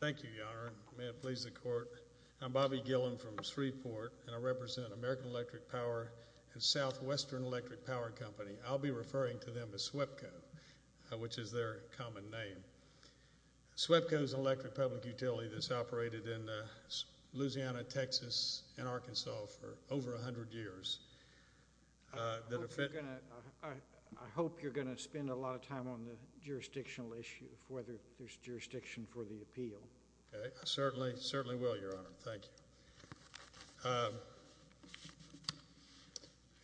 Thank you, Your Honor. May it please the Court. I'm Bobby Gillen from Shreveport, and I represent American Electric Power and Southwestern Electric Power Company. I'll be referring to them as SWEPCO, which is their common name. SWEPCO is an electric public utility that's operated in Louisiana, Texas, and Arkansas for over 100 years. I hope you're going to spend a lot of time on the jurisdictional issue, whether there's jurisdiction for the appeal. I certainly will, Your Honor. Thank you.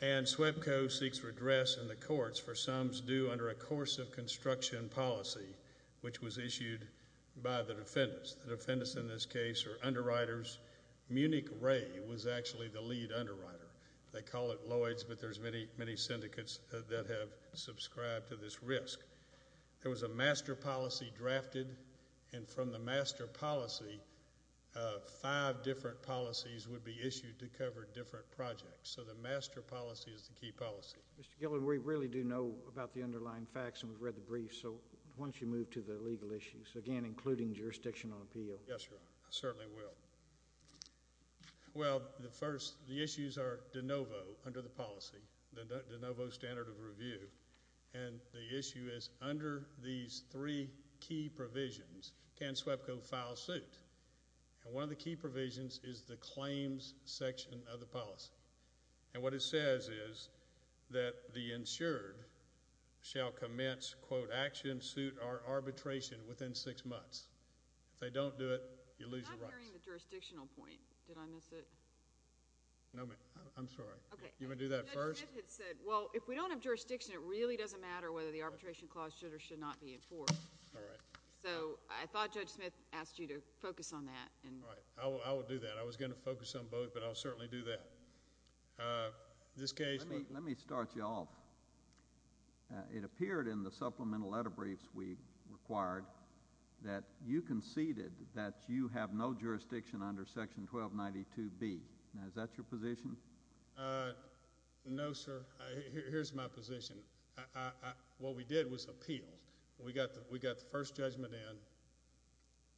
And SWEPCO seeks redress in the courts for sums due under a course of construction policy, which was issued by the defendants. The defendants in this case are underwriters. Munich Ray was actually the lead underwriter. They call it Lloyd's, but there's many, many syndicates that have subscribed to this risk. There was a master policy drafted, and from the master policy, five different policies would be issued to cover different projects. So the master policy is the key policy. Mr. Gillen, we really do know about the underlying facts, and we've read the briefs, so why don't you move to the legal issues, again, including jurisdiction on appeal. Yes, Your Honor. I certainly will. Well, the first, the issues are de novo under the policy, the de novo standard of review, and the issue is under these three key provisions, can SWEPCO file suit? And one of the key provisions is the claims section of the policy. And what it says is that the insured shall commence, quote, action, suit, or arbitration within six months. If they don't do it, you lose the rights. I'm not hearing the jurisdictional point. Did I miss it? No, ma'am. I'm sorry. Okay. You want to do that first? Judge Smith had said, well, if we don't have jurisdiction, it really doesn't matter whether the arbitration clause should or should not be enforced. All right. I will do that. I was going to focus on both, but I'll certainly do that. Let me start you off. It appeared in the supplemental letter briefs we required that you conceded that you have no jurisdiction under section 1292B. Now, is that your position? No, sir. Here's my position. What we did was appeal. We got the first judgment in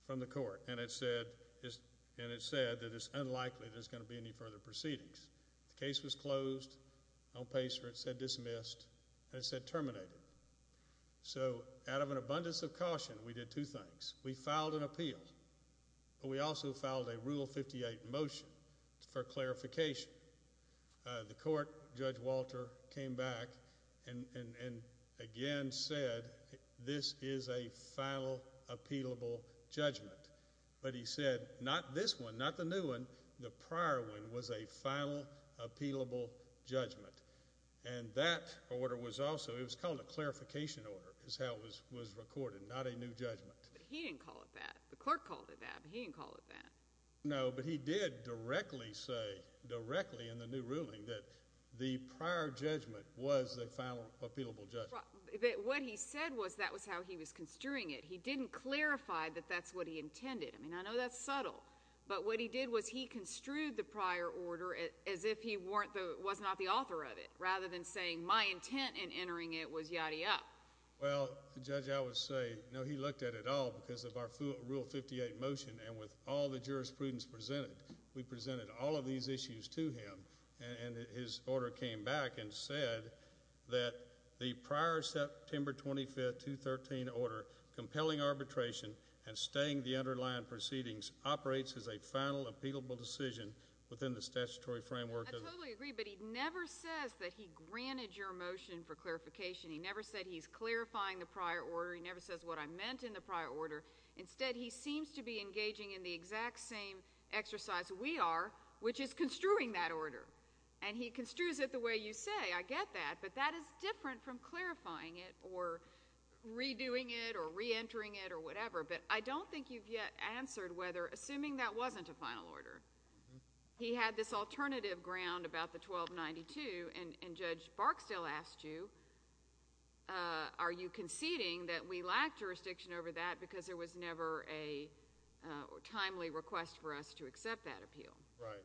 from the court. And it said that it's unlikely there's going to be any further proceedings. The case was closed on paper. It said dismissed. And it said terminated. So out of an abundance of caution, we did two things. We filed an appeal, but we also filed a Rule 58 motion for clarification. The court, Judge Walter, came back and again said this is a final appealable judgment. But he said, not this one, not the new one, the prior one was a final appealable judgment. And that order was also, it was called a clarification order is how it was recorded, not a new judgment. But he didn't call it that. The court called it that, but he didn't call it that. No, but he did directly say, directly in the new ruling, that the prior judgment was the final appealable judgment. What he said was that was how he was construing it. He didn't clarify that that's what he intended. I mean, I know that's subtle. But what he did was he construed the prior order as if he was not the author of it, rather than saying my intent in entering it was yadda yadda. Well, Judge, I would say, no, he looked at it all because of our Rule 58 motion. And with all the jurisprudence presented, we presented all of these issues to him. And his order came back and said that the prior September 25th, 213 order, compelling arbitration, and staying the underlying proceedings, operates as a final appealable decision within the statutory framework of the... I totally agree, but he never says that he granted your motion for clarification. He never said he's clarifying the prior order. He never says what I meant in the prior order. Instead, he seems to be engaging in the exact same exercise we are, which is construing that order. And he construes it the way you say. I get that, but that is different from clarifying it, or redoing it, or reentering it, or whatever. But I don't think you've yet answered whether, assuming that wasn't a final order, he had this alternative ground about the 1292. And Judge Barksdale asked you, are you conceding that we lack jurisdiction over that because there was never a timely request for us to accept that appeal? Right.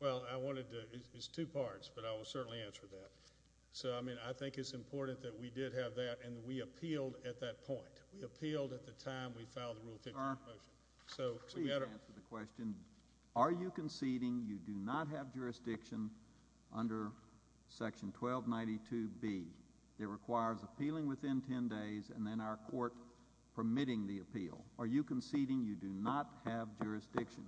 Well, I wanted to... It's two parts, but I will certainly answer that. So, I mean, I think it's important that we did have that, and we appealed at that point. We appealed at the time we filed the Rule 53 motion. We can answer the question. Are you conceding you do not have jurisdiction under Section 1292B that requires appealing within 10 days, and then our court permitting the appeal? Are you conceding you do not have jurisdiction?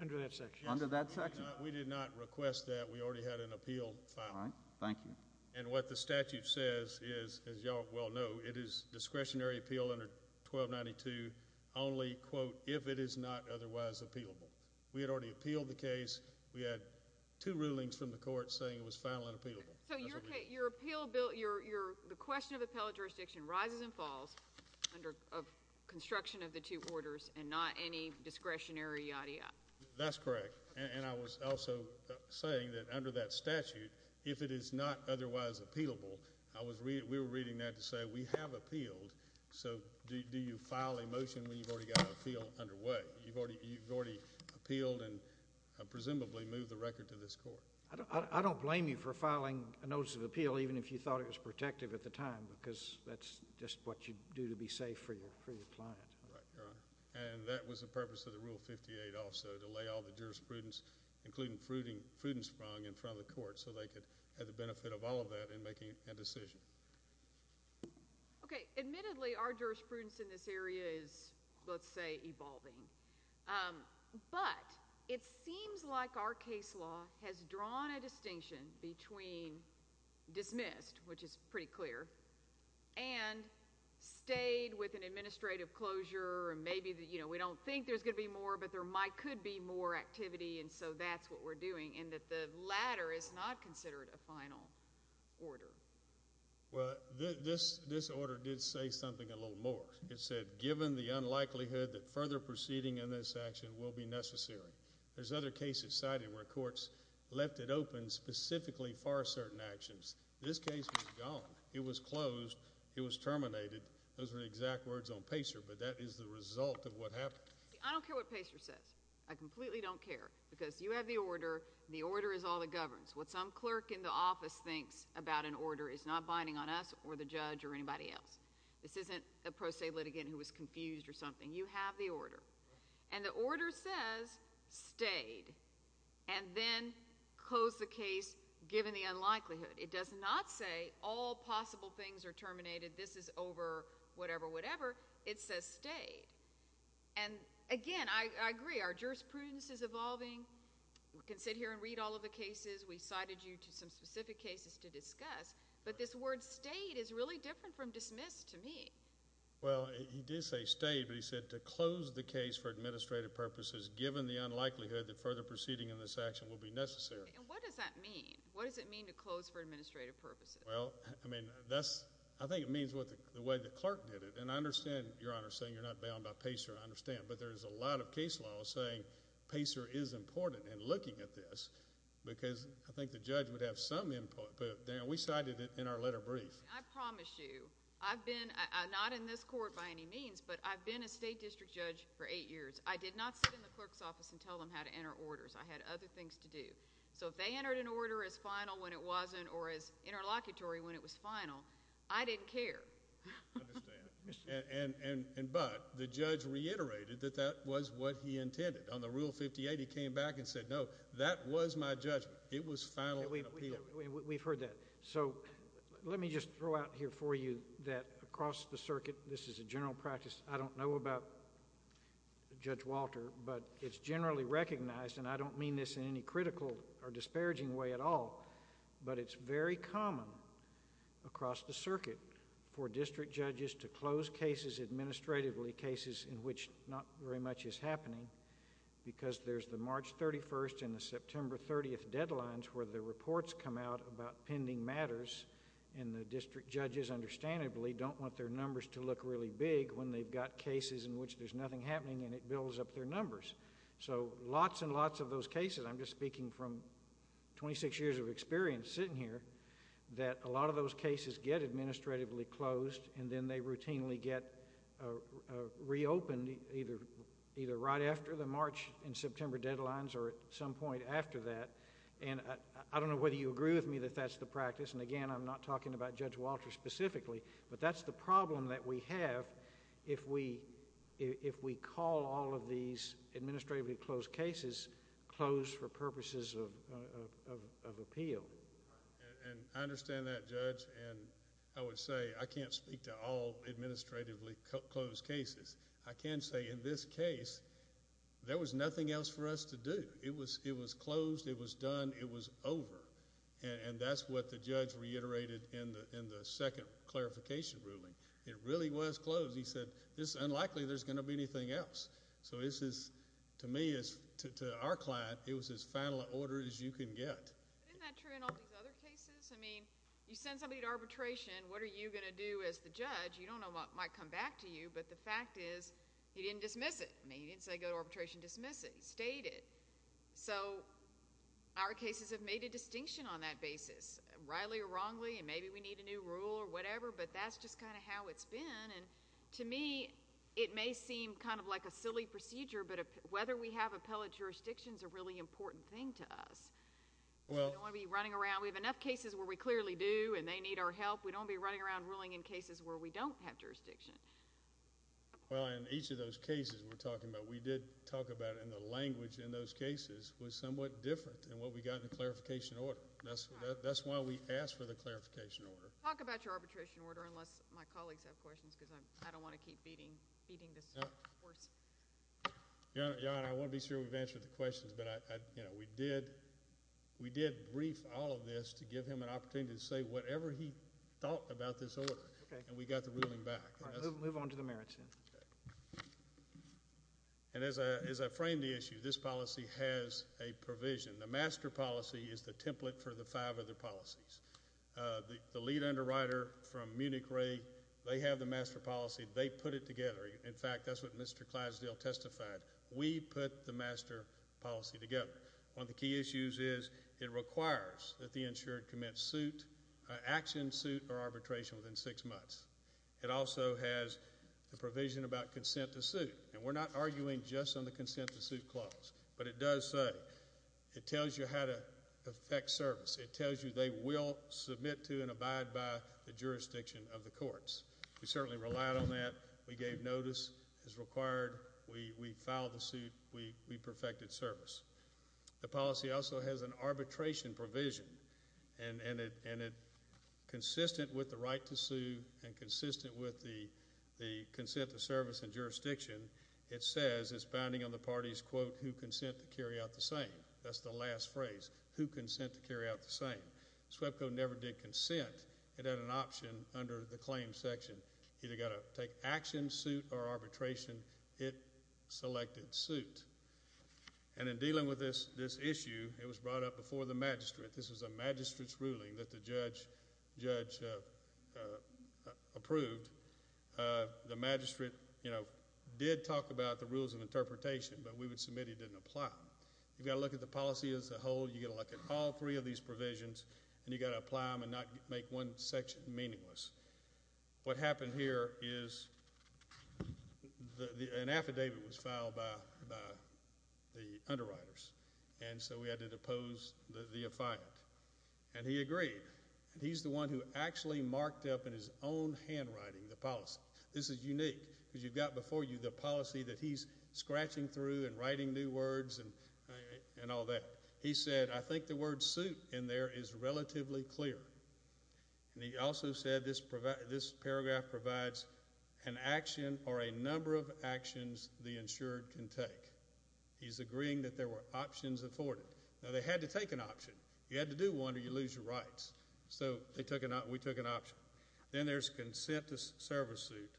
Under that section. Under that section? We did not request that. We already had an appeal filed. All right. Thank you. And what the statute says is, as you all well know, it is discretionary appeal under 1292 only, quote, if it is not otherwise appealable. We had already appealed the case. We had two rulings from the court saying it was final and appealable. So your appeal, Bill, your... The question of appellate jurisdiction rises and falls under construction of the two orders and not any discretionary yada yada. That's correct. And I was also saying that under that statute, if it is not otherwise appealable, we were reading that to say we have appealed, so do you file a motion when you've already got an appeal underway? You've already appealed and presumably moved the record to this court. I don't blame you for filing a notice of appeal even if you thought it was protective at the time, because that's just what you do to be safe for your client. Right, Your Honor. And that was the purpose of the Rule 58 also, to lay all the jurisprudence, including Frudensprung, in front of the court so they could have the benefit of all of that in making a decision. Okay. Admittedly, our jurisprudence in this area is, let's say, evolving. But it seems like our case law has drawn a distinction between dismissed, which is pretty clear, and stayed with an administrative closure, and maybe, you know, we don't think there's going to be more, but there could be more activity, and so that's what we're doing, and that the latter is not considered a final order. Well, this order did say something a little more. It said, given the unlikelihood that further proceeding in this action will be necessary. There's other cases cited where courts left it open specifically for certain actions. This case was gone. It was closed. It was terminated. Those are the exact words on Pacer, but that is the result of what happened. I don't care what Pacer says. I completely don't care, because you have the order. The order is all that governs. What some clerk in the office thinks about an order is not binding on us or the judge or anybody else. This isn't a pro se litigant who was confused or something. You have the order, and the order says stayed, and then closed the case given the unlikelihood. It does not say all possible things are terminated. This is over whatever, whatever. It says stayed, and again, I agree. Our jurisprudence is evolving. We can sit here and read all of the cases. We cited you to some specific cases to discuss, but this word stayed is really different from dismissed to me. Well, he did say stayed, but he said to close the case for administrative purposes given the unlikelihood that further proceeding in this action will be necessary. And what does that mean? What does it mean to close for administrative purposes? Well, I mean, that's, I think it means the way the clerk did it, and I understand your Honor saying you're not bound by Pacer. I understand, but there's a lot of case laws saying Pacer is important in looking at this, because I think the judge would have some input, but we cited it in our letter brief. I promise you, I've been, not in this court by any means, but I've been a state district judge for eight years. I did not sit in the clerk's office and tell them how to enter orders. I had other things to do. So if they entered an order as final when it wasn't, or as interlocutory when it was final, I didn't care. I understand. And, but, the judge reiterated that that was what he intended. On the Rule 58, he came back and said, no, that was my judgment. It was final in appeal. We've heard that. So let me just throw out here for you that across the circuit, this is a general practice. I don't know about Judge Walter, but it's generally recognized, and I don't mean this in any critical or disparaging way at all, but it's very common across the circuit for district judges to close cases administratively, cases in which not very much is happening, because there's the March 31st and the September 30th deadlines where the reports come out about pending matters, and the district judges understandably don't want their numbers to look really big when they've got cases in which there's nothing happening, and it builds up their numbers. So lots and lots of those cases, I'm just speaking from 26 years of experience sitting here, that a lot of those cases get administratively closed, and then they routinely get reopened either right after the March and September deadlines or at some point after that, and I don't know whether you agree with me that that's the practice, and again, I'm not talking about Judge Walter specifically, but that's the problem that we have if we call all of these administratively closed cases closed for purposes of appeal. And I understand that, Judge, and I would say I can't speak to all administratively closed cases. I can say in this case, there was nothing else for us to do. It was closed, it was done, it was over, and that's what the judge reiterated in the second clarification ruling. It really was closed. He said, it's unlikely there's going to be anything else. So this is, to me, to our client, it was as final an order as you can get. Isn't that true in all these other cases? I mean, you send somebody to arbitration, what are you going to do as the judge? You don't know what might come back to you, but the fact is, he didn't dismiss it. I mean, he didn't say go to arbitration, dismiss it. He stated. So our cases have made a distinction on that basis, rightly or wrongly, and maybe we need a new rule or whatever, but that's just kind of how it's been, and to me, it may seem kind of like a silly procedure, but whether we have appellate jurisdictions is a really important thing to us. We don't want to be running around. We have enough cases where we clearly do, and they need our help. We don't want to be running around ruling in cases where we don't have jurisdiction. Well, in each of those cases we're talking about, we did talk about it, and the language in those cases was somewhat different than what we got in the clarification order. That's why we asked for the clarification order. Talk about your arbitration order, unless my colleagues have questions, because I don't want to keep beating this horse. Your Honor, I want to be sure we've answered the questions, but we did brief all of this to give him an opportunity to say whatever he thought about this order, and we got the ruling back. All right. Move on to the merits, then. And as I framed the issue, this policy has a provision. The master policy is the template for the five other policies. The lead underwriter from Munich Re, they have the master policy. They put it together. In fact, that's what Mr. Clydesdale testified. We put the master policy together. One of the key issues is it requires that the insured commence action suit or arbitration within six months. It also has the provision about consent to suit, and we're not arguing just on the consent to suit clause, but it does say, it tells you how to effect service. It tells you they will submit to and abide by the jurisdiction of the courts. We certainly relied on that. We gave notice as required. We filed the suit. We perfected service. The policy also has an arbitration provision, and it, consistent with the right to sue and consistent with the consent to service and jurisdiction, it says it's bounding on the parties, quote, who consent to carry out the same. That's the last phrase, who consent to carry out the same. SWEPCO never did consent. It had an option under the claims section. It either got to take action suit or arbitration. It selected suit. And in dealing with this issue, it was brought up before the magistrate. This was a magistrate's ruling that the judge approved. The magistrate, you know, did talk about the rules of interpretation, but we would submit it didn't apply. You've got to look at the policy as a whole. You've got to look at all three of these provisions, and you've got to apply them and not make one section meaningless. What happened here is an affidavit was filed by the underwriters, and so we had to depose the affiant. And he agreed. He's the one who actually marked up in his own handwriting the policy. This is unique, because you've got before you the policy that he's scratching through and writing new words and all that. He said, I think the word suit in there is relatively clear. And he also said this paragraph provides an action or a number of actions the insured can take. He's agreeing that there were options afforded. Now, they had to take an option. You had to do one or you lose your rights. So we took an option. Then there's consent to service suit.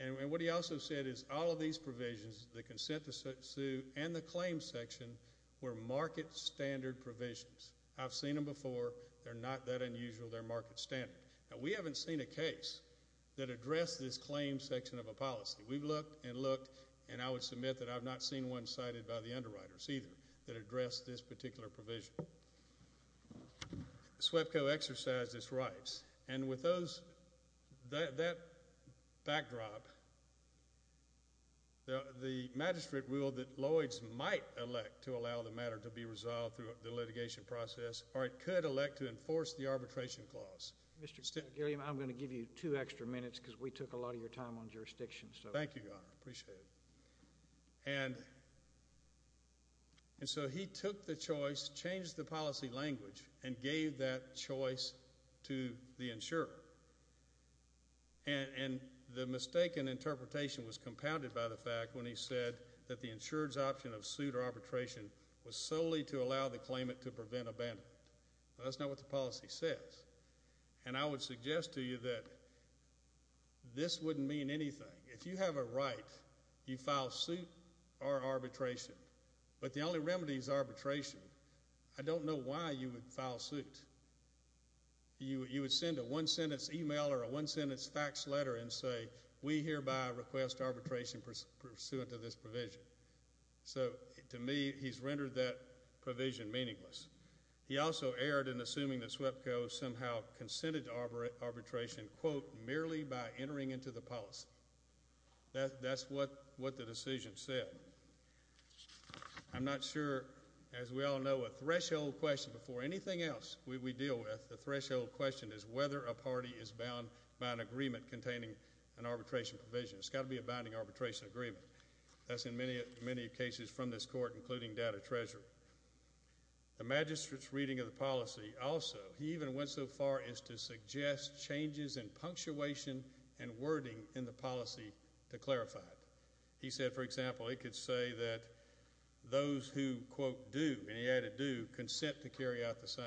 And what he also said is all of these provisions, the consent to suit and the claim section, were market standard provisions. I've seen them before. They're not that unusual. They're market standard. Now, we haven't seen a case that addressed this claim section of a policy. We've looked and looked. And I would submit that I've not seen one cited by the underwriters either that addressed this particular provision. SWEPCO exercised its rights. And with that backdrop, the magistrate ruled that Lloyd's might elect to allow the matter to be resolved through the litigation process or it could elect to enforce the arbitration clause. Mr. Gilliam, I'm going to give you two extra minutes because we took a lot of your time on jurisdiction. Thank you, Your Honor. I appreciate it. And so he took the choice, changed the policy language and gave that choice to the insurer. And the mistake in interpretation was compounded by the fact when he said that the insurer's option of suit or arbitration was solely to allow the claimant to prevent abandonment. That's not what the policy says. And I would suggest to you that this wouldn't mean anything. If you have a right, you file suit or arbitration. But the only remedy is arbitration. I don't know why you would file suit. You would send a one-sentence email or a one-sentence fax letter and say, we hereby request arbitration pursuant to this provision. So to me, he's rendered that provision meaningless. He also erred in assuming that SWEPCO somehow consented to arbitration quote, merely by entering into the policy. That's what the decision said. I'm not sure, as we all know, a threshold question before anything else we deal with, the threshold question is whether a party is bound by an agreement containing an arbitration provision. It's got to be a binding arbitration agreement. That's in many cases from this court, including data treasurer. The magistrate's reading of the policy also, he even went so far as to suggest changes in punctuation and wording in the policy to clarify it. He said, for example, it could say that those who quote, do, and he added do, consent to carry out the same.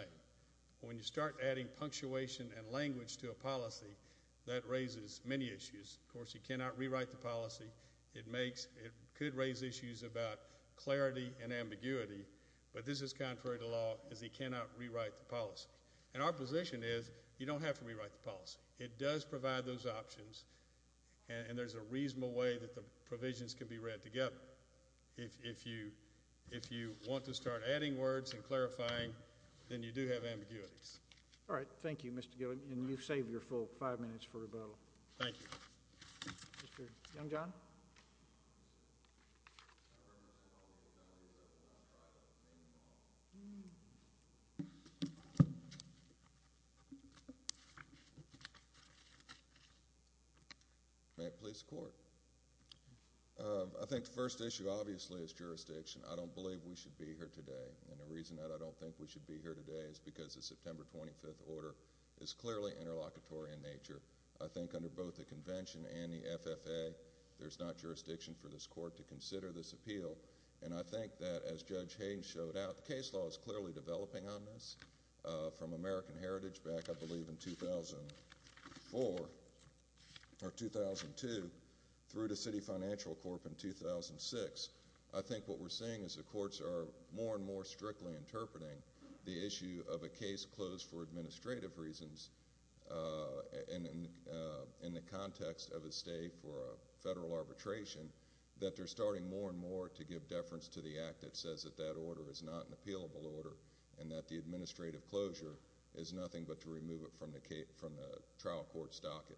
When you start adding punctuation and language to a policy, that raises many issues. Of course, he cannot rewrite the policy. It makes, it could raise issues about clarity and ambiguity, but this is contrary to law, as he cannot rewrite the policy. And our position is, you don't have to rewrite the policy. It does provide those options, and there's a reasonable way that the provisions can be read together. If you want to start adding words and clarifying, then you do have ambiguities. All right. Thank you, Mr. Gilliam. And you've saved your full five minutes for rebuttal. Thank you. Mr. Youngjohn? May it please the Court. I think the first issue, obviously, is jurisdiction. I don't believe we should be here today, and the reason that I don't think we should be here today is because the September 25th order is clearly interlocutory in nature. I think under both the Convention and the FFA, there's not jurisdiction for this Court to consider this appeal. And I think that, as Judge Haynes showed out, the case law is clearly developing on this. From American Heritage, back, I believe, in 2004, or 2002, through to City Financial Corp. in 2006. I think what we're seeing is the Courts are more and more strictly interpreting the issue of a case closed for administrative reasons in the context of a stay for a federal arbitration that they're starting more and more to give deference to the Act that says that that order is not an appealable order and that the administrative closure is nothing but to remove it from the trial court's docket.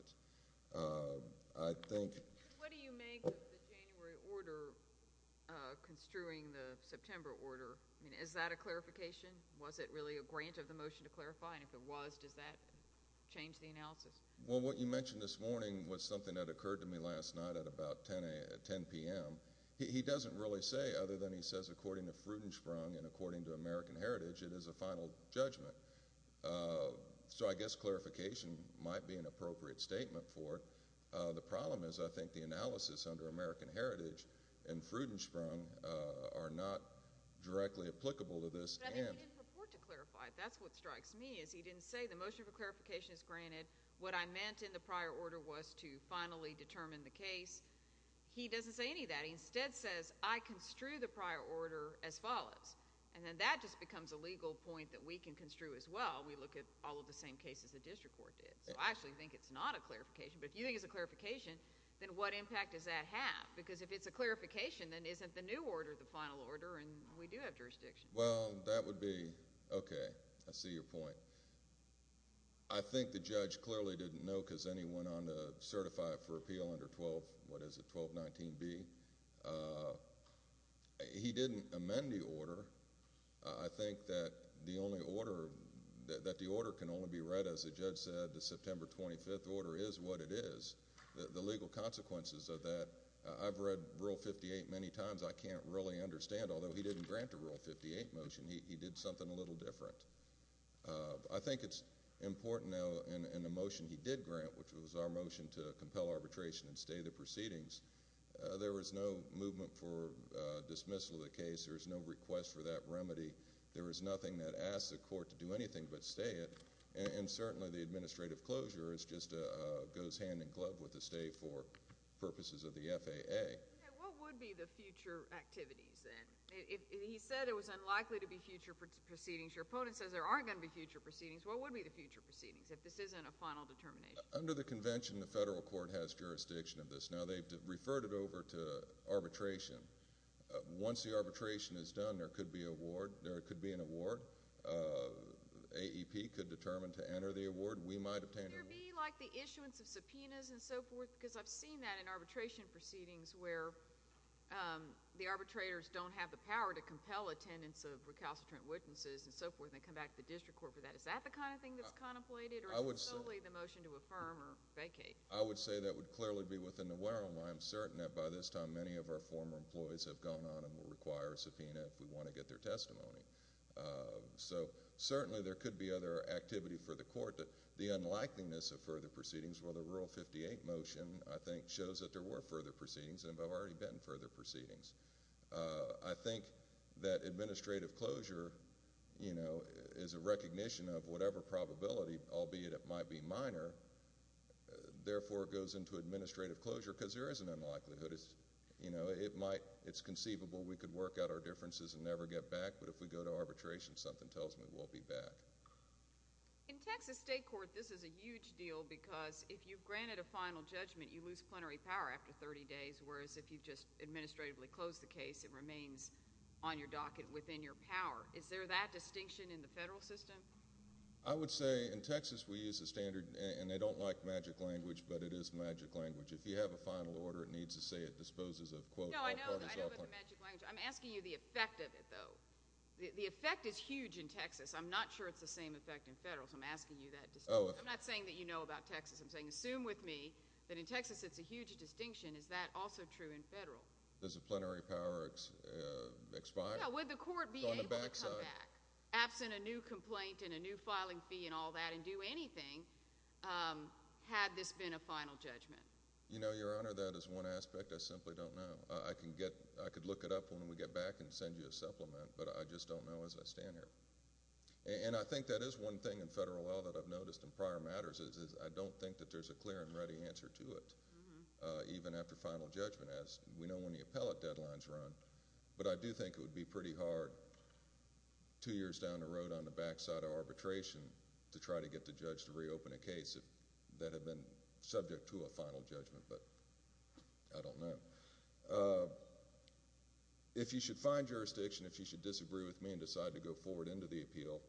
I think... What do you make of the January order construing the September order? I mean, is that a clarification? Was it really a grant of the motion to clarify? And if it was, does that change the analysis? Well, what you mentioned this morning was something that occurred to me last night at about 10 p.m. He doesn't really say, other than he says according to Frudensprung and according to American Heritage, it is a final judgment. So I guess clarification might be an appropriate statement for it. The problem is, I think, the analysis under American Heritage and Frudensprung are not directly applicable to this. But I think he didn't purport to clarify it. That's what strikes me, is he didn't say, the motion for clarification is granted, what I meant in the prior order was to finally determine the case. He doesn't say any of that. He instead says, I construe the prior order as follows. And then that just becomes a legal point that we can construe as well. We look at all of the same cases the district court did. So I actually think it's not a clarification. But if you think it's a clarification, then what impact does that have? Because if it's a clarification, then isn't the new order the final order, and we do have jurisdiction. Well, that would be, OK. I see your point. I think the judge clearly didn't know, because then he went on to certify it for appeal under 12, what is it, 1219B. He didn't amend the order. I think that the only order, that the order can only be read, as the judge said, the September 25th order is what it is. The legal consequences of that, I've read Rule 58 many times. I can't really understand, although he didn't grant a Rule 58 motion. He did something a little different. I think it's important now, in the motion he did grant, which was our motion to compel arbitration and stay the proceedings, there was no movement for dismissal of the case. There was no request for that remedy. There was nothing that asked the court to do anything but stay it. And certainly the administrative closure is just a goes hand in glove with the stay for what would be the future activities then? He said it was unlikely to be future proceedings. Your opponent says there aren't going to be future proceedings. What would be the future proceedings, if this isn't a final determination? Under the convention, the federal court has jurisdiction of this. Now, they've referred it over to arbitration. Once the arbitration is done, there could be an award. AEP could determine to enter the award. We might obtain an award. Would there be like the issuance of subpoenas and so forth? Because I've seen that in arbitration proceedings where the arbitrators don't have the power to compel attendance of recalcitrant witnesses and so forth and come back to the district court for that. Is that the kind of thing that's contemplated or is it solely the motion to affirm or vacate? I would say that would clearly be within the realm. I'm certain that by this time, many of our former employees have gone on and will require a subpoena if we want to get their testimony. Certainly, there could be other activity for the court. The unlikeliness of further proceedings where the Rural 58 motion, I think, shows that there were further proceedings and have already been further proceedings. I think that administrative closure is a recognition of whatever probability, albeit it might be minor, therefore, it goes into administrative closure because there is an unlikelihood. It's conceivable we could work out our differences and never get back, but if we go to arbitration, something tells me we'll be back. In Texas State it's a different deal because if you've granted a final judgment, you lose plenary power after 30 days, whereas if you just administratively close the case, it remains on your docket within your power. Is there that distinction in the federal system? I would say in Texas we use the standard, and they don't like magic language, but it is magic language. If you have a final order, it needs to say it disposes of, quote... No, I know about the magic language. I'm asking you the effect of it, though. The effect is huge in Texas. I'm not sure it's the same effect in federal, so I'm asking you that distinction. I'm not saying that you know about Texas. I'm saying, assume with me that in Texas it's a huge distinction. Is that also true in federal? Does the plenary power expire? Yeah, would the court be able to come back, absent a new complaint and a new filing fee and all that, and do anything, had this been a final judgment? You know, Your Honor, that is one aspect I simply don't know. I could look it up when we get back and send you a supplement, but I just don't know as I stand here. And I think that is one thing in federal law that I've noticed in prior matters is I don't think that there's a clear and ready answer to it, even after final judgment, as we know when the appellate deadlines run, but I do think it would be pretty hard two years down the road on the back side of arbitration to try to get the judge to reopen a case that had been subject to a final judgment, but I don't know. If you should find jurisdiction, if you should disagree with me and decide to go forward into the appeal,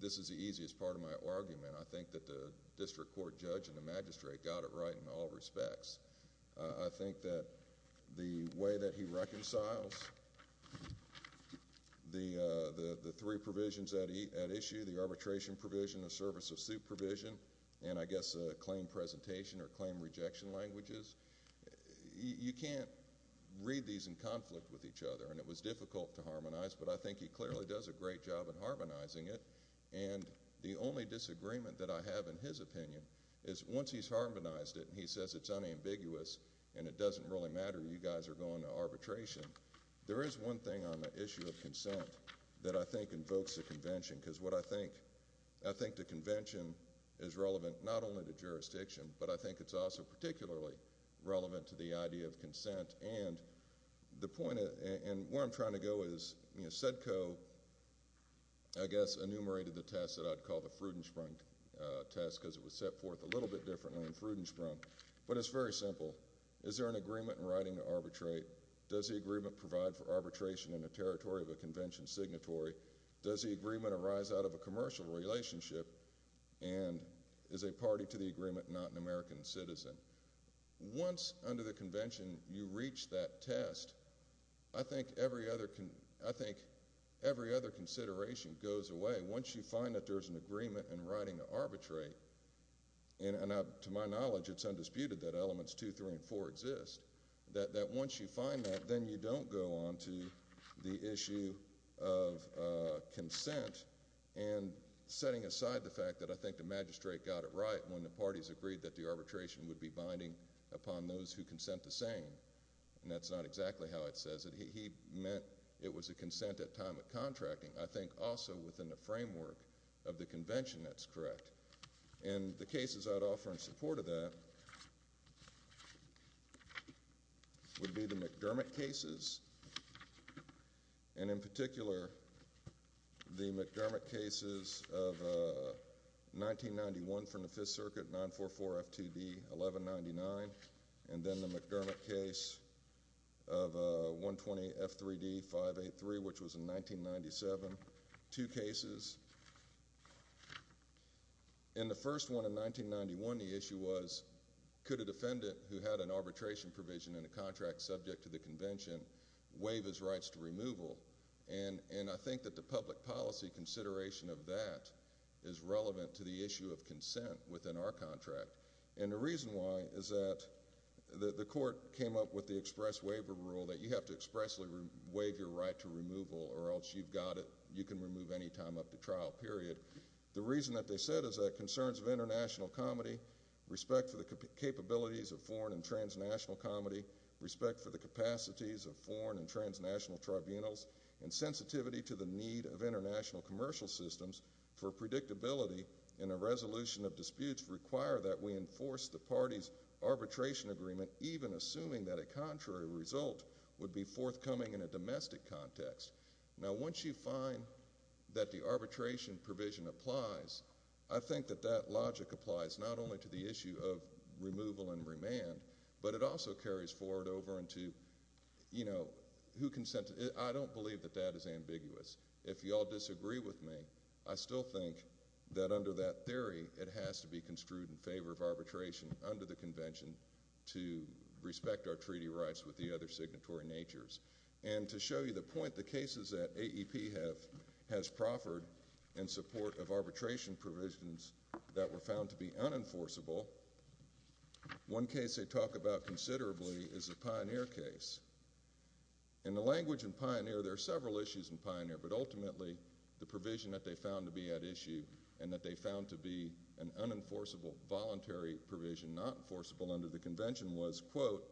this is the easiest part of my argument. I think that the district court judge and the magistrate got it right in all respects. I think that the way that he reconciles the three provisions at issue, the arbitration provision, the service of suit provision, and I guess the claim presentation or claim rejection languages, you can't read these in conflict with each other, and it was difficult to harmonize, but I think he clearly does a great job in harmonizing it, and the only disagreement that I have in his opinion is once he's harmonized it and he says it's unambiguous and it doesn't really matter, you guys are going to arbitration, there is one thing on the issue of consent that I think invokes a convention, because what I think I think the convention is relevant not only to jurisdiction, but I think it's also particularly relevant to the idea of consent, and the point and where I'm trying to go is, SEDCO I guess enumerated the test that I'd call the Frudensprung test, because it was set forth a little bit differently in Frudensprung, but it's very simple. Is there an agreement in writing to arbitrate? Does the agreement provide for arbitration in the territory of a convention signatory? Does the agreement arise out of a commercial relationship, and is a party to the agreement not an American citizen? Once, under the convention, you reach that test, I think every other consideration goes away. Once you find that there's an agreement in writing to arbitrate, and to my knowledge it's undisputed that elements 2, 3, and 4 exist, that once you find that, then you don't go on to the issue of consent, and setting aside the fact that I think the magistrate got it right when the parties agreed that the arbitration would be binding upon those who consent the same. And that's not exactly how it says it. He meant it was a consent at time of contracting. I think also within the framework of the convention that's correct. And the cases I'd offer in support of that would be the McDermott cases, and in particular the McDermott cases of 1991 from the Fifth Circuit, 944 F2B 1199, and then the McDermott case of 120 F3D 583, which was in 1997. Two cases. In the first one in 1991, the issue was could a defendant who had an arbitration provision in a contract subject to the convention waive his rights to removal? And I think that the reason for that is relevant to the issue of consent within our contract. And the reason why is that the court came up with the express waiver rule that you have to expressly waive your right to removal or else you've got it, you can remove any time up to trial, period. The reason that they said is that concerns of international comity, respect for the capabilities of foreign and transnational comity, respect for the capacities of foreign and transnational tribunals, and sensitivity to the need of international commercial systems for predictability in a resolution of disputes require that we enforce the party's arbitration agreement, even assuming that a contrary result would be forthcoming in a domestic context. Now, once you find that the arbitration provision applies, I think that that logic applies not only to the issue of removal and remand, but it also carries forward over into, you know, who consented. I don't believe that that is ambiguous. If you all disagree with me, I still think that under that theory, it has to be construed in favor of arbitration under the convention to respect our treaty rights with the other signatory natures. And to show you the point, the cases that AEP has proffered in support of arbitration provisions that were found to be unenforceable, one case they talk about considerably is the Pioneer case. In the language in Pioneer, there are several issues in Pioneer, but ultimately, the provision that they found to be at issue, and that they found to be an unenforceable, voluntary provision not enforceable under the convention was, quote,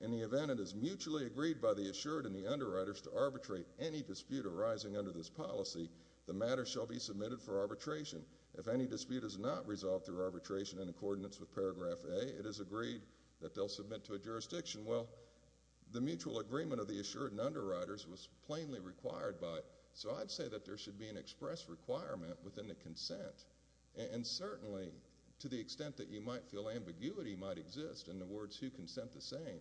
in the event it is mutually agreed by the assured and the underwriters to arbitrate any dispute arising under this policy, the matter shall be submitted for arbitration. If any dispute is not resolved through arbitration in accordance with paragraph A, it is agreed that they'll submit to a jurisdiction. Well, the mutual agreement of the assured and underwriters was plainly required by it. So I'd say that there should be an express requirement within the consent. And certainly, to the extent that you might feel ambiguity might exist in the words who consent the same,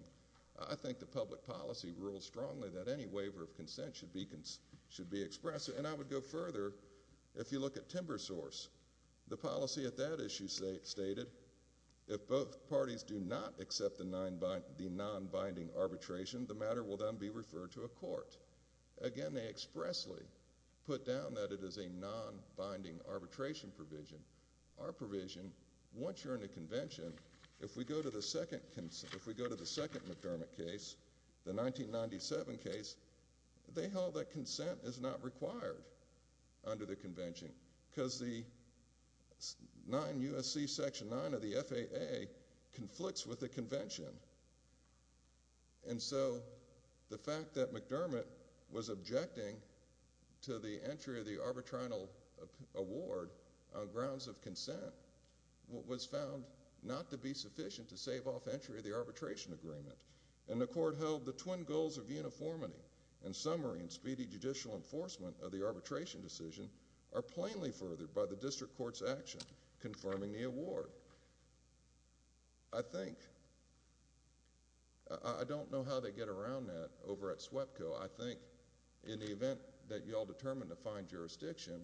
I think the public policy rules strongly that any waiver of consent should be expressed. And I would go further if you look at timber source. The policy at that issue stated, if both the non-binding arbitration, the matter will then be referred to a court. Again, they expressly put down that it is a non- binding arbitration provision. Our provision, once you're in a convention, if we go to the second McDermott case, the 1997 case, they held that consent is not required under the convention. Because the 9 U.S.C. Section 9 of the FAA conflicts with the convention. And so the fact that McDermott was objecting to the entry of the arbitrational award on grounds of consent was found not to be sufficient to save off entry of the arbitration agreement. And the court held the twin goals of uniformity and summary and speedy judicial enforcement of the arbitration decision are plainly furthered by the district court's action confirming the award. I think I don't know how they get around that over at SWEPCO. I think in the event that y'all determine to find jurisdiction,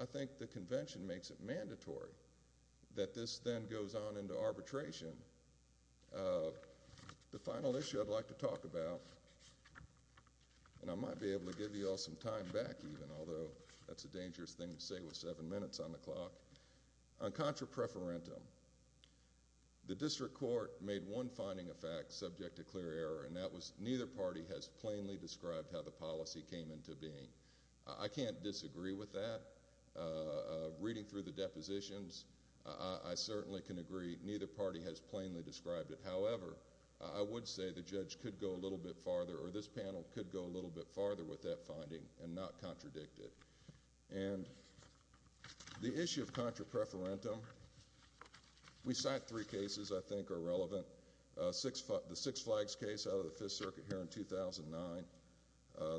I think the convention makes it mandatory that this then goes on into arbitration. The final issue I'd like to talk about, and I might be able to give y'all some time back even, although that's a dangerous thing to say with seven minutes on the clock. On contra preferentum, the district court made one finding of fact subject to clear error, and that was neither party has plainly described how the policy came into being. I can't disagree with that. Reading through the depositions, I certainly can agree neither party has plainly described it. However, I would say the judge could go a little bit farther, or this panel could go a little bit farther with that finding and not contradict it. And the issue of contra preferentum, we cite three cases I think are relevant. The Six Flags case out of the Fifth Circuit here in 2009.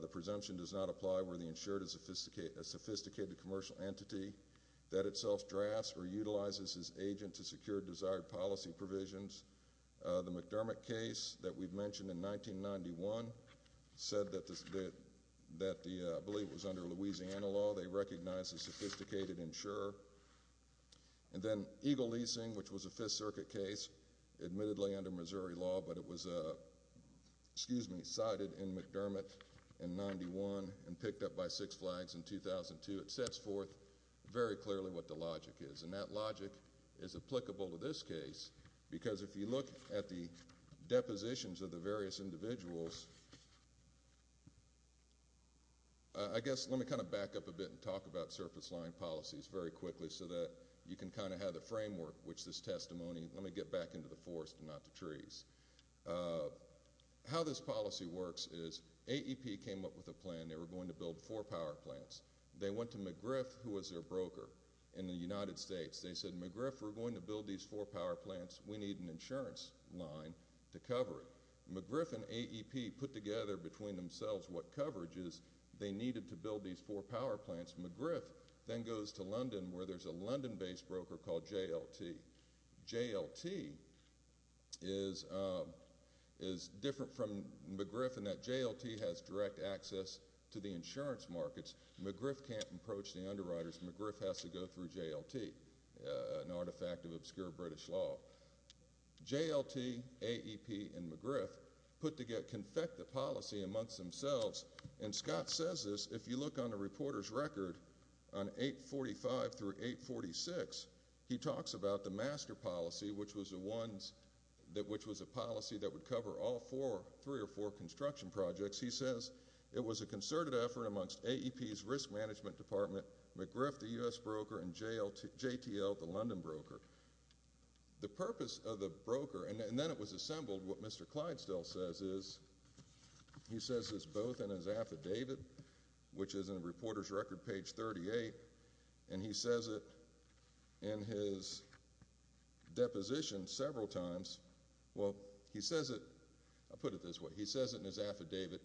The presumption does not apply where the insured is a sophisticated commercial entity that itself drafts or utilizes his agent to secure desired policy provisions. The McDermott case that we've mentioned in 1991 said that I believe it was under Louisiana law. They recognize a sophisticated insurer. And then Eagle Leasing, which was a Fifth Circuit case, admittedly under Missouri law, but it was cited in McDermott in 1991 and picked up by Six Flags in 2002. It sets forth very clearly what the logic is, and that logic is applicable to this case because if you look at the depositions of the various individuals, I guess let me kind of back up a bit and talk about surface line policies very quickly so that you can kind of have the framework, which this testimony, let me get back into the forest and not the trees. How this policy works is AEP came up with a plan. They were going to build four power plants. They went to McGriff, who was their broker in the United States. They said, McGriff, we're going to build these four power plants. We need an insurance line to put together between themselves what coverage they needed to build these four power plants. McGriff then goes to London, where there's a London-based broker called JLT. JLT is different from McGriff in that JLT has direct access to the insurance markets. McGriff can't approach the underwriters. McGriff has to go through JLT, an artifact of obscure British law. JLT, AEP, and McGriff put together a policy amongst themselves. Scott says this, if you look on the reporter's record on 845 through 846, he talks about the master policy, which was a policy that would cover all three or four construction projects. He says, it was a concerted effort amongst AEP's risk management department, McGriff, the U.S. broker, and JTL, the London broker. The purpose of the broker, and then it was assembled, what Mr. Clyde still says is, he says this both in his affidavit, which is in the reporter's record, page 38, and he says it in his deposition several times, well, he says it, I'll put it this way, he says it in his affidavit,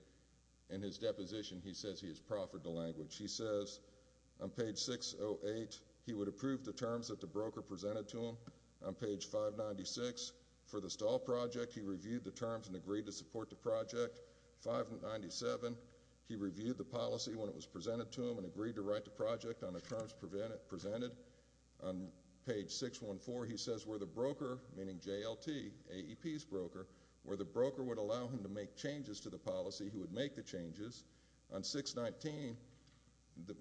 in his deposition, he says he has proffered the language. He says on page 608, he would approve the terms that the broker presented to him. On page 596, for the stall project, he reviewed the terms and agreed to support the project. 597, he reviewed the policy when it was presented to him and agreed to write the project on the terms presented. On page 614, he says where the broker, meaning JLT, AEP's broker, where the broker would allow him to make changes to the policy, he would make the changes. On 619,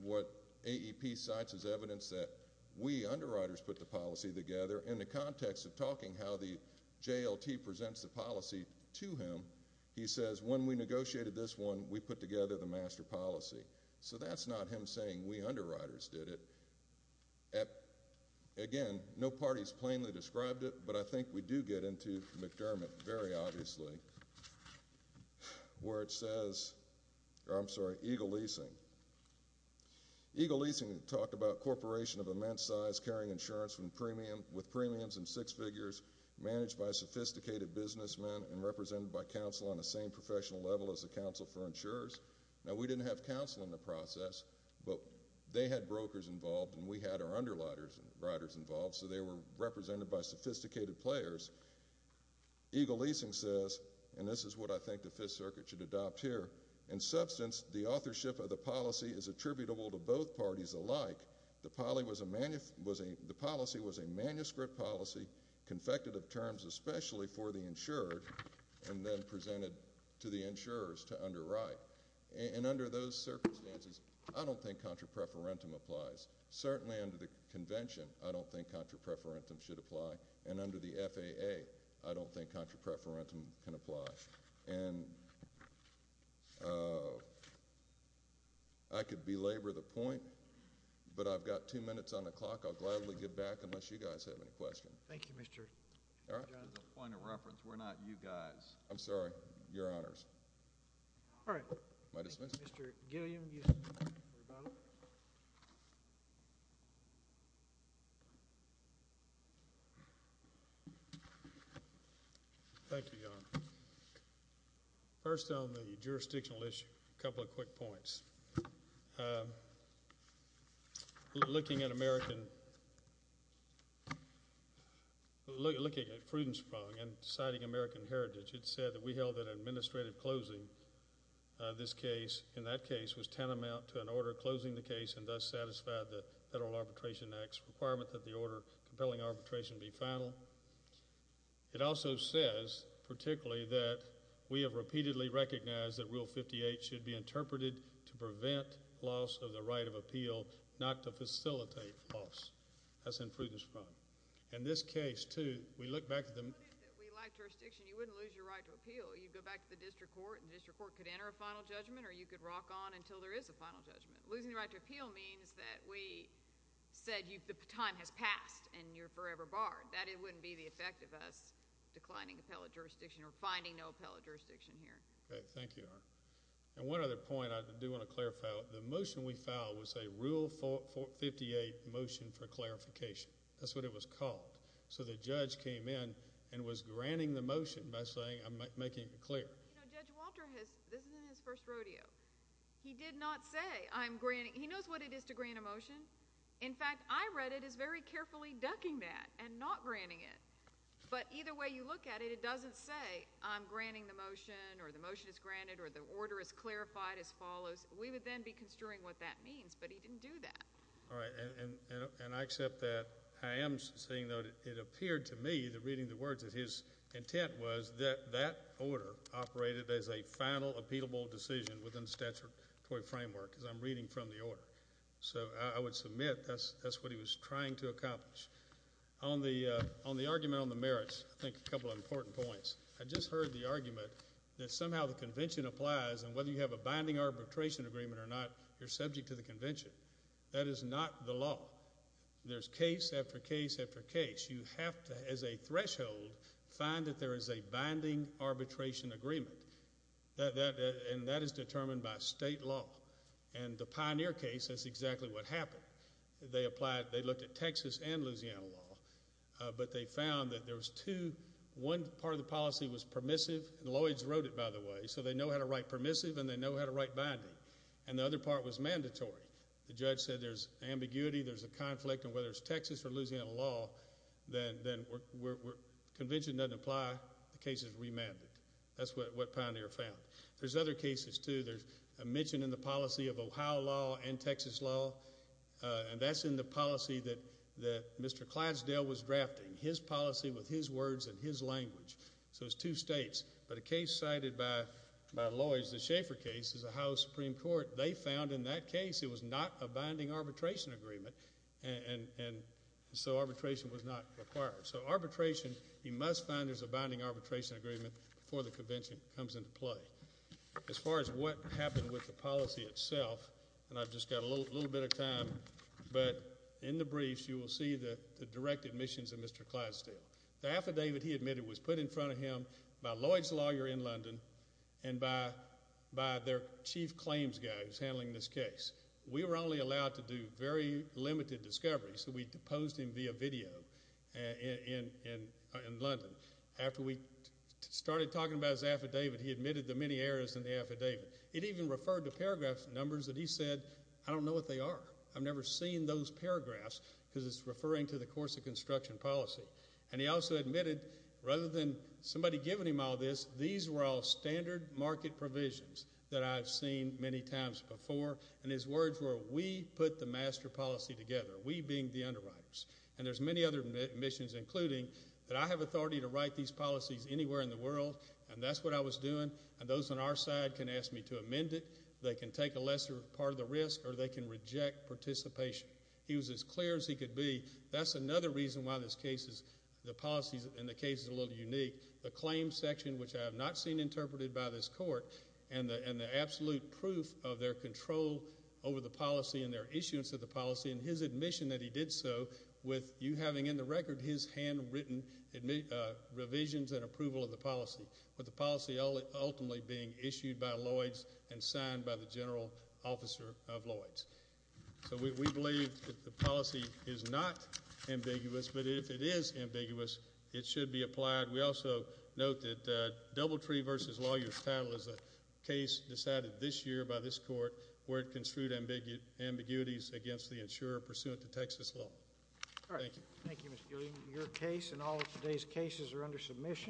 what AEP cites is evidence that we underwriters put the policy together in the context of talking how the JLT presents the policy to him. He says when we negotiated this one, we put together the master policy. So that's not him saying we underwriters did it. Again, no parties plainly described it, but I think we do get into McDermott very obviously where it says, or I'm sorry, Eagle Leasing. Eagle Leasing talked about a corporation of immense size carrying insurance with premiums in six figures, managed by sophisticated businessmen and represented by counsel on the same professional level as the Council for Insurers. We didn't have counsel in the process, but they had brokers involved, and we had our underwriters involved, so they were represented by sophisticated players. Eagle Leasing says, and this is what I think the Fifth Circuit should adopt here, in substance, the authorship of the policy is attributable to both parties alike. The policy was a manuscript policy, confected of terms especially for the insured, and then presented to the insurers to underwrite. Under those circumstances, I don't think contra preferentum applies. Certainly under the Convention, I don't think contra preferentum should apply, and under the FAA, I don't think contra preferentum can apply. And I could belabor the point, but I've got two minutes on the clock. I'll gladly get back unless you guys have any questions. Thank you, Mr. John. As a point of reference, we're not you guys. I'm sorry. Your honors. All right. Thank you, Mr. Gilliam. Thank you. Thank you, Your Honor. First on the jurisdictional issue, a couple of quick points. Looking at American looking at deciding American heritage, it said that we held an administrative closing to this case, and that case was tantamount to an order closing the case and thus satisfied the Federal Arbitration Act's requirement that the order compelling arbitration be final. It also says particularly that we have repeatedly recognized that Rule 58 should be interpreted to prevent loss of the right of appeal, not to facilitate loss. That's in Prudence Front. In this case, too, we look back to the We lack jurisdiction. You wouldn't lose your right to appeal. You'd go back to the District Court, and the District Court could enter a final judgment, or you could rock on until there is a final judgment. Losing the right to appeal means that we said the time has passed, and you're forever barred. That wouldn't be the effect of us declining appellate jurisdiction or finding no appellate jurisdiction here. Okay. Thank you, Your Honor. And one other point I do want to clarify. The motion we filed was a Rule 58 motion for clarification. That's what it was called. So the judge came in and was granting the motion by saying, I'm making it clear. Judge Walter, this is in his first rodeo, he did not say, he knows what it is to grant a motion. In fact, I read it as very carefully ducking that and not granting it. But either way you look at it, it doesn't say, I'm granting the motion or the motion is granted or the order is clarified as follows. We would then be construing what that means, but he didn't do that. All right. And I accept that. I am saying though, it appeared to me, reading the words, that his intent was that that order operated as a final appealable decision within the statutory framework, as I'm reading from the order. So I would submit that's what he was trying to accomplish. On the argument on the merits, I think a couple of important points. I just heard the argument that somehow the convention applies and whether you have a binding arbitration agreement or not, you're subject to the convention. That is not the law. There's case after case after case. You have to, as a threshold, find that there is a binding arbitration agreement. And that is determined by state law. And the Pioneer case, that's exactly what happened. They applied, they looked at Texas and Louisiana law, but they found that there was two, one part of the policy was permissive, and Lloyd's wrote it, by the way, so they know how to write permissive and they know how to write binding. And the other part was mandatory. The judge said there's ambiguity, there's a conflict, and whether it's Texas or Louisiana law, then convention doesn't apply, the case is remanded. That's what Pioneer found. There's other cases too. There's a mention in the policy of Ohio law and Texas law, and that's in the policy that Mr. Clydesdale was drafting. His policy with his words and his language. So it's two states. But a case cited by Lloyd's, the Schaeffer case, is a case that was not a binding arbitration agreement, and so arbitration was not required. So arbitration, you must find there's a binding arbitration agreement before the convention comes into play. As far as what happened with the policy itself, and I've just got a little bit of time, but in the briefs you will see the direct admissions of Mr. Clydesdale. The affidavit he admitted was put in front of him by Lloyd's lawyer in London and by their chief claims guy who's handling this case. We were only allowed to do very limited discoveries, so we posed him via video in London. After we started talking about his affidavit, he admitted the many errors in the affidavit. It even referred to paragraph numbers that he said, I don't know what they are. I've never seen those paragraphs because it's referring to the course of construction policy. And he also admitted, rather than somebody giving him all this, these were all standard market provisions that I've seen many times before. And his words were, we put the master policy together, we being the underwriters. And there's many other admissions, including that I have authority to write these policies anywhere in the world, and that's what I was doing, and those on our side can ask me to amend it, they can take a lesser part of the risk, or they can reject participation. He was as clear as he could be. That's another reason why this case is, the policies in the case is a little unique. The claims section, which I have not seen interpreted by this court, and the absolute proof of their control over the policy and their issuance of the policy and his admission that he did so with you having in the record his handwritten revisions and approval of the policy. With the policy ultimately being issued by Lloyds and signed by the general officer of Lloyds. So we believe that the policy is not ambiguous, but if it is ambiguous, it should be applied. We also note that Doubletree v. Lawyers Title is a case decided this year by this court where it construed ambiguities against the insurer pursuant to Texas law. Thank you. Thank you, Mr. Gilliam. Your case and all of today's cases are under submission.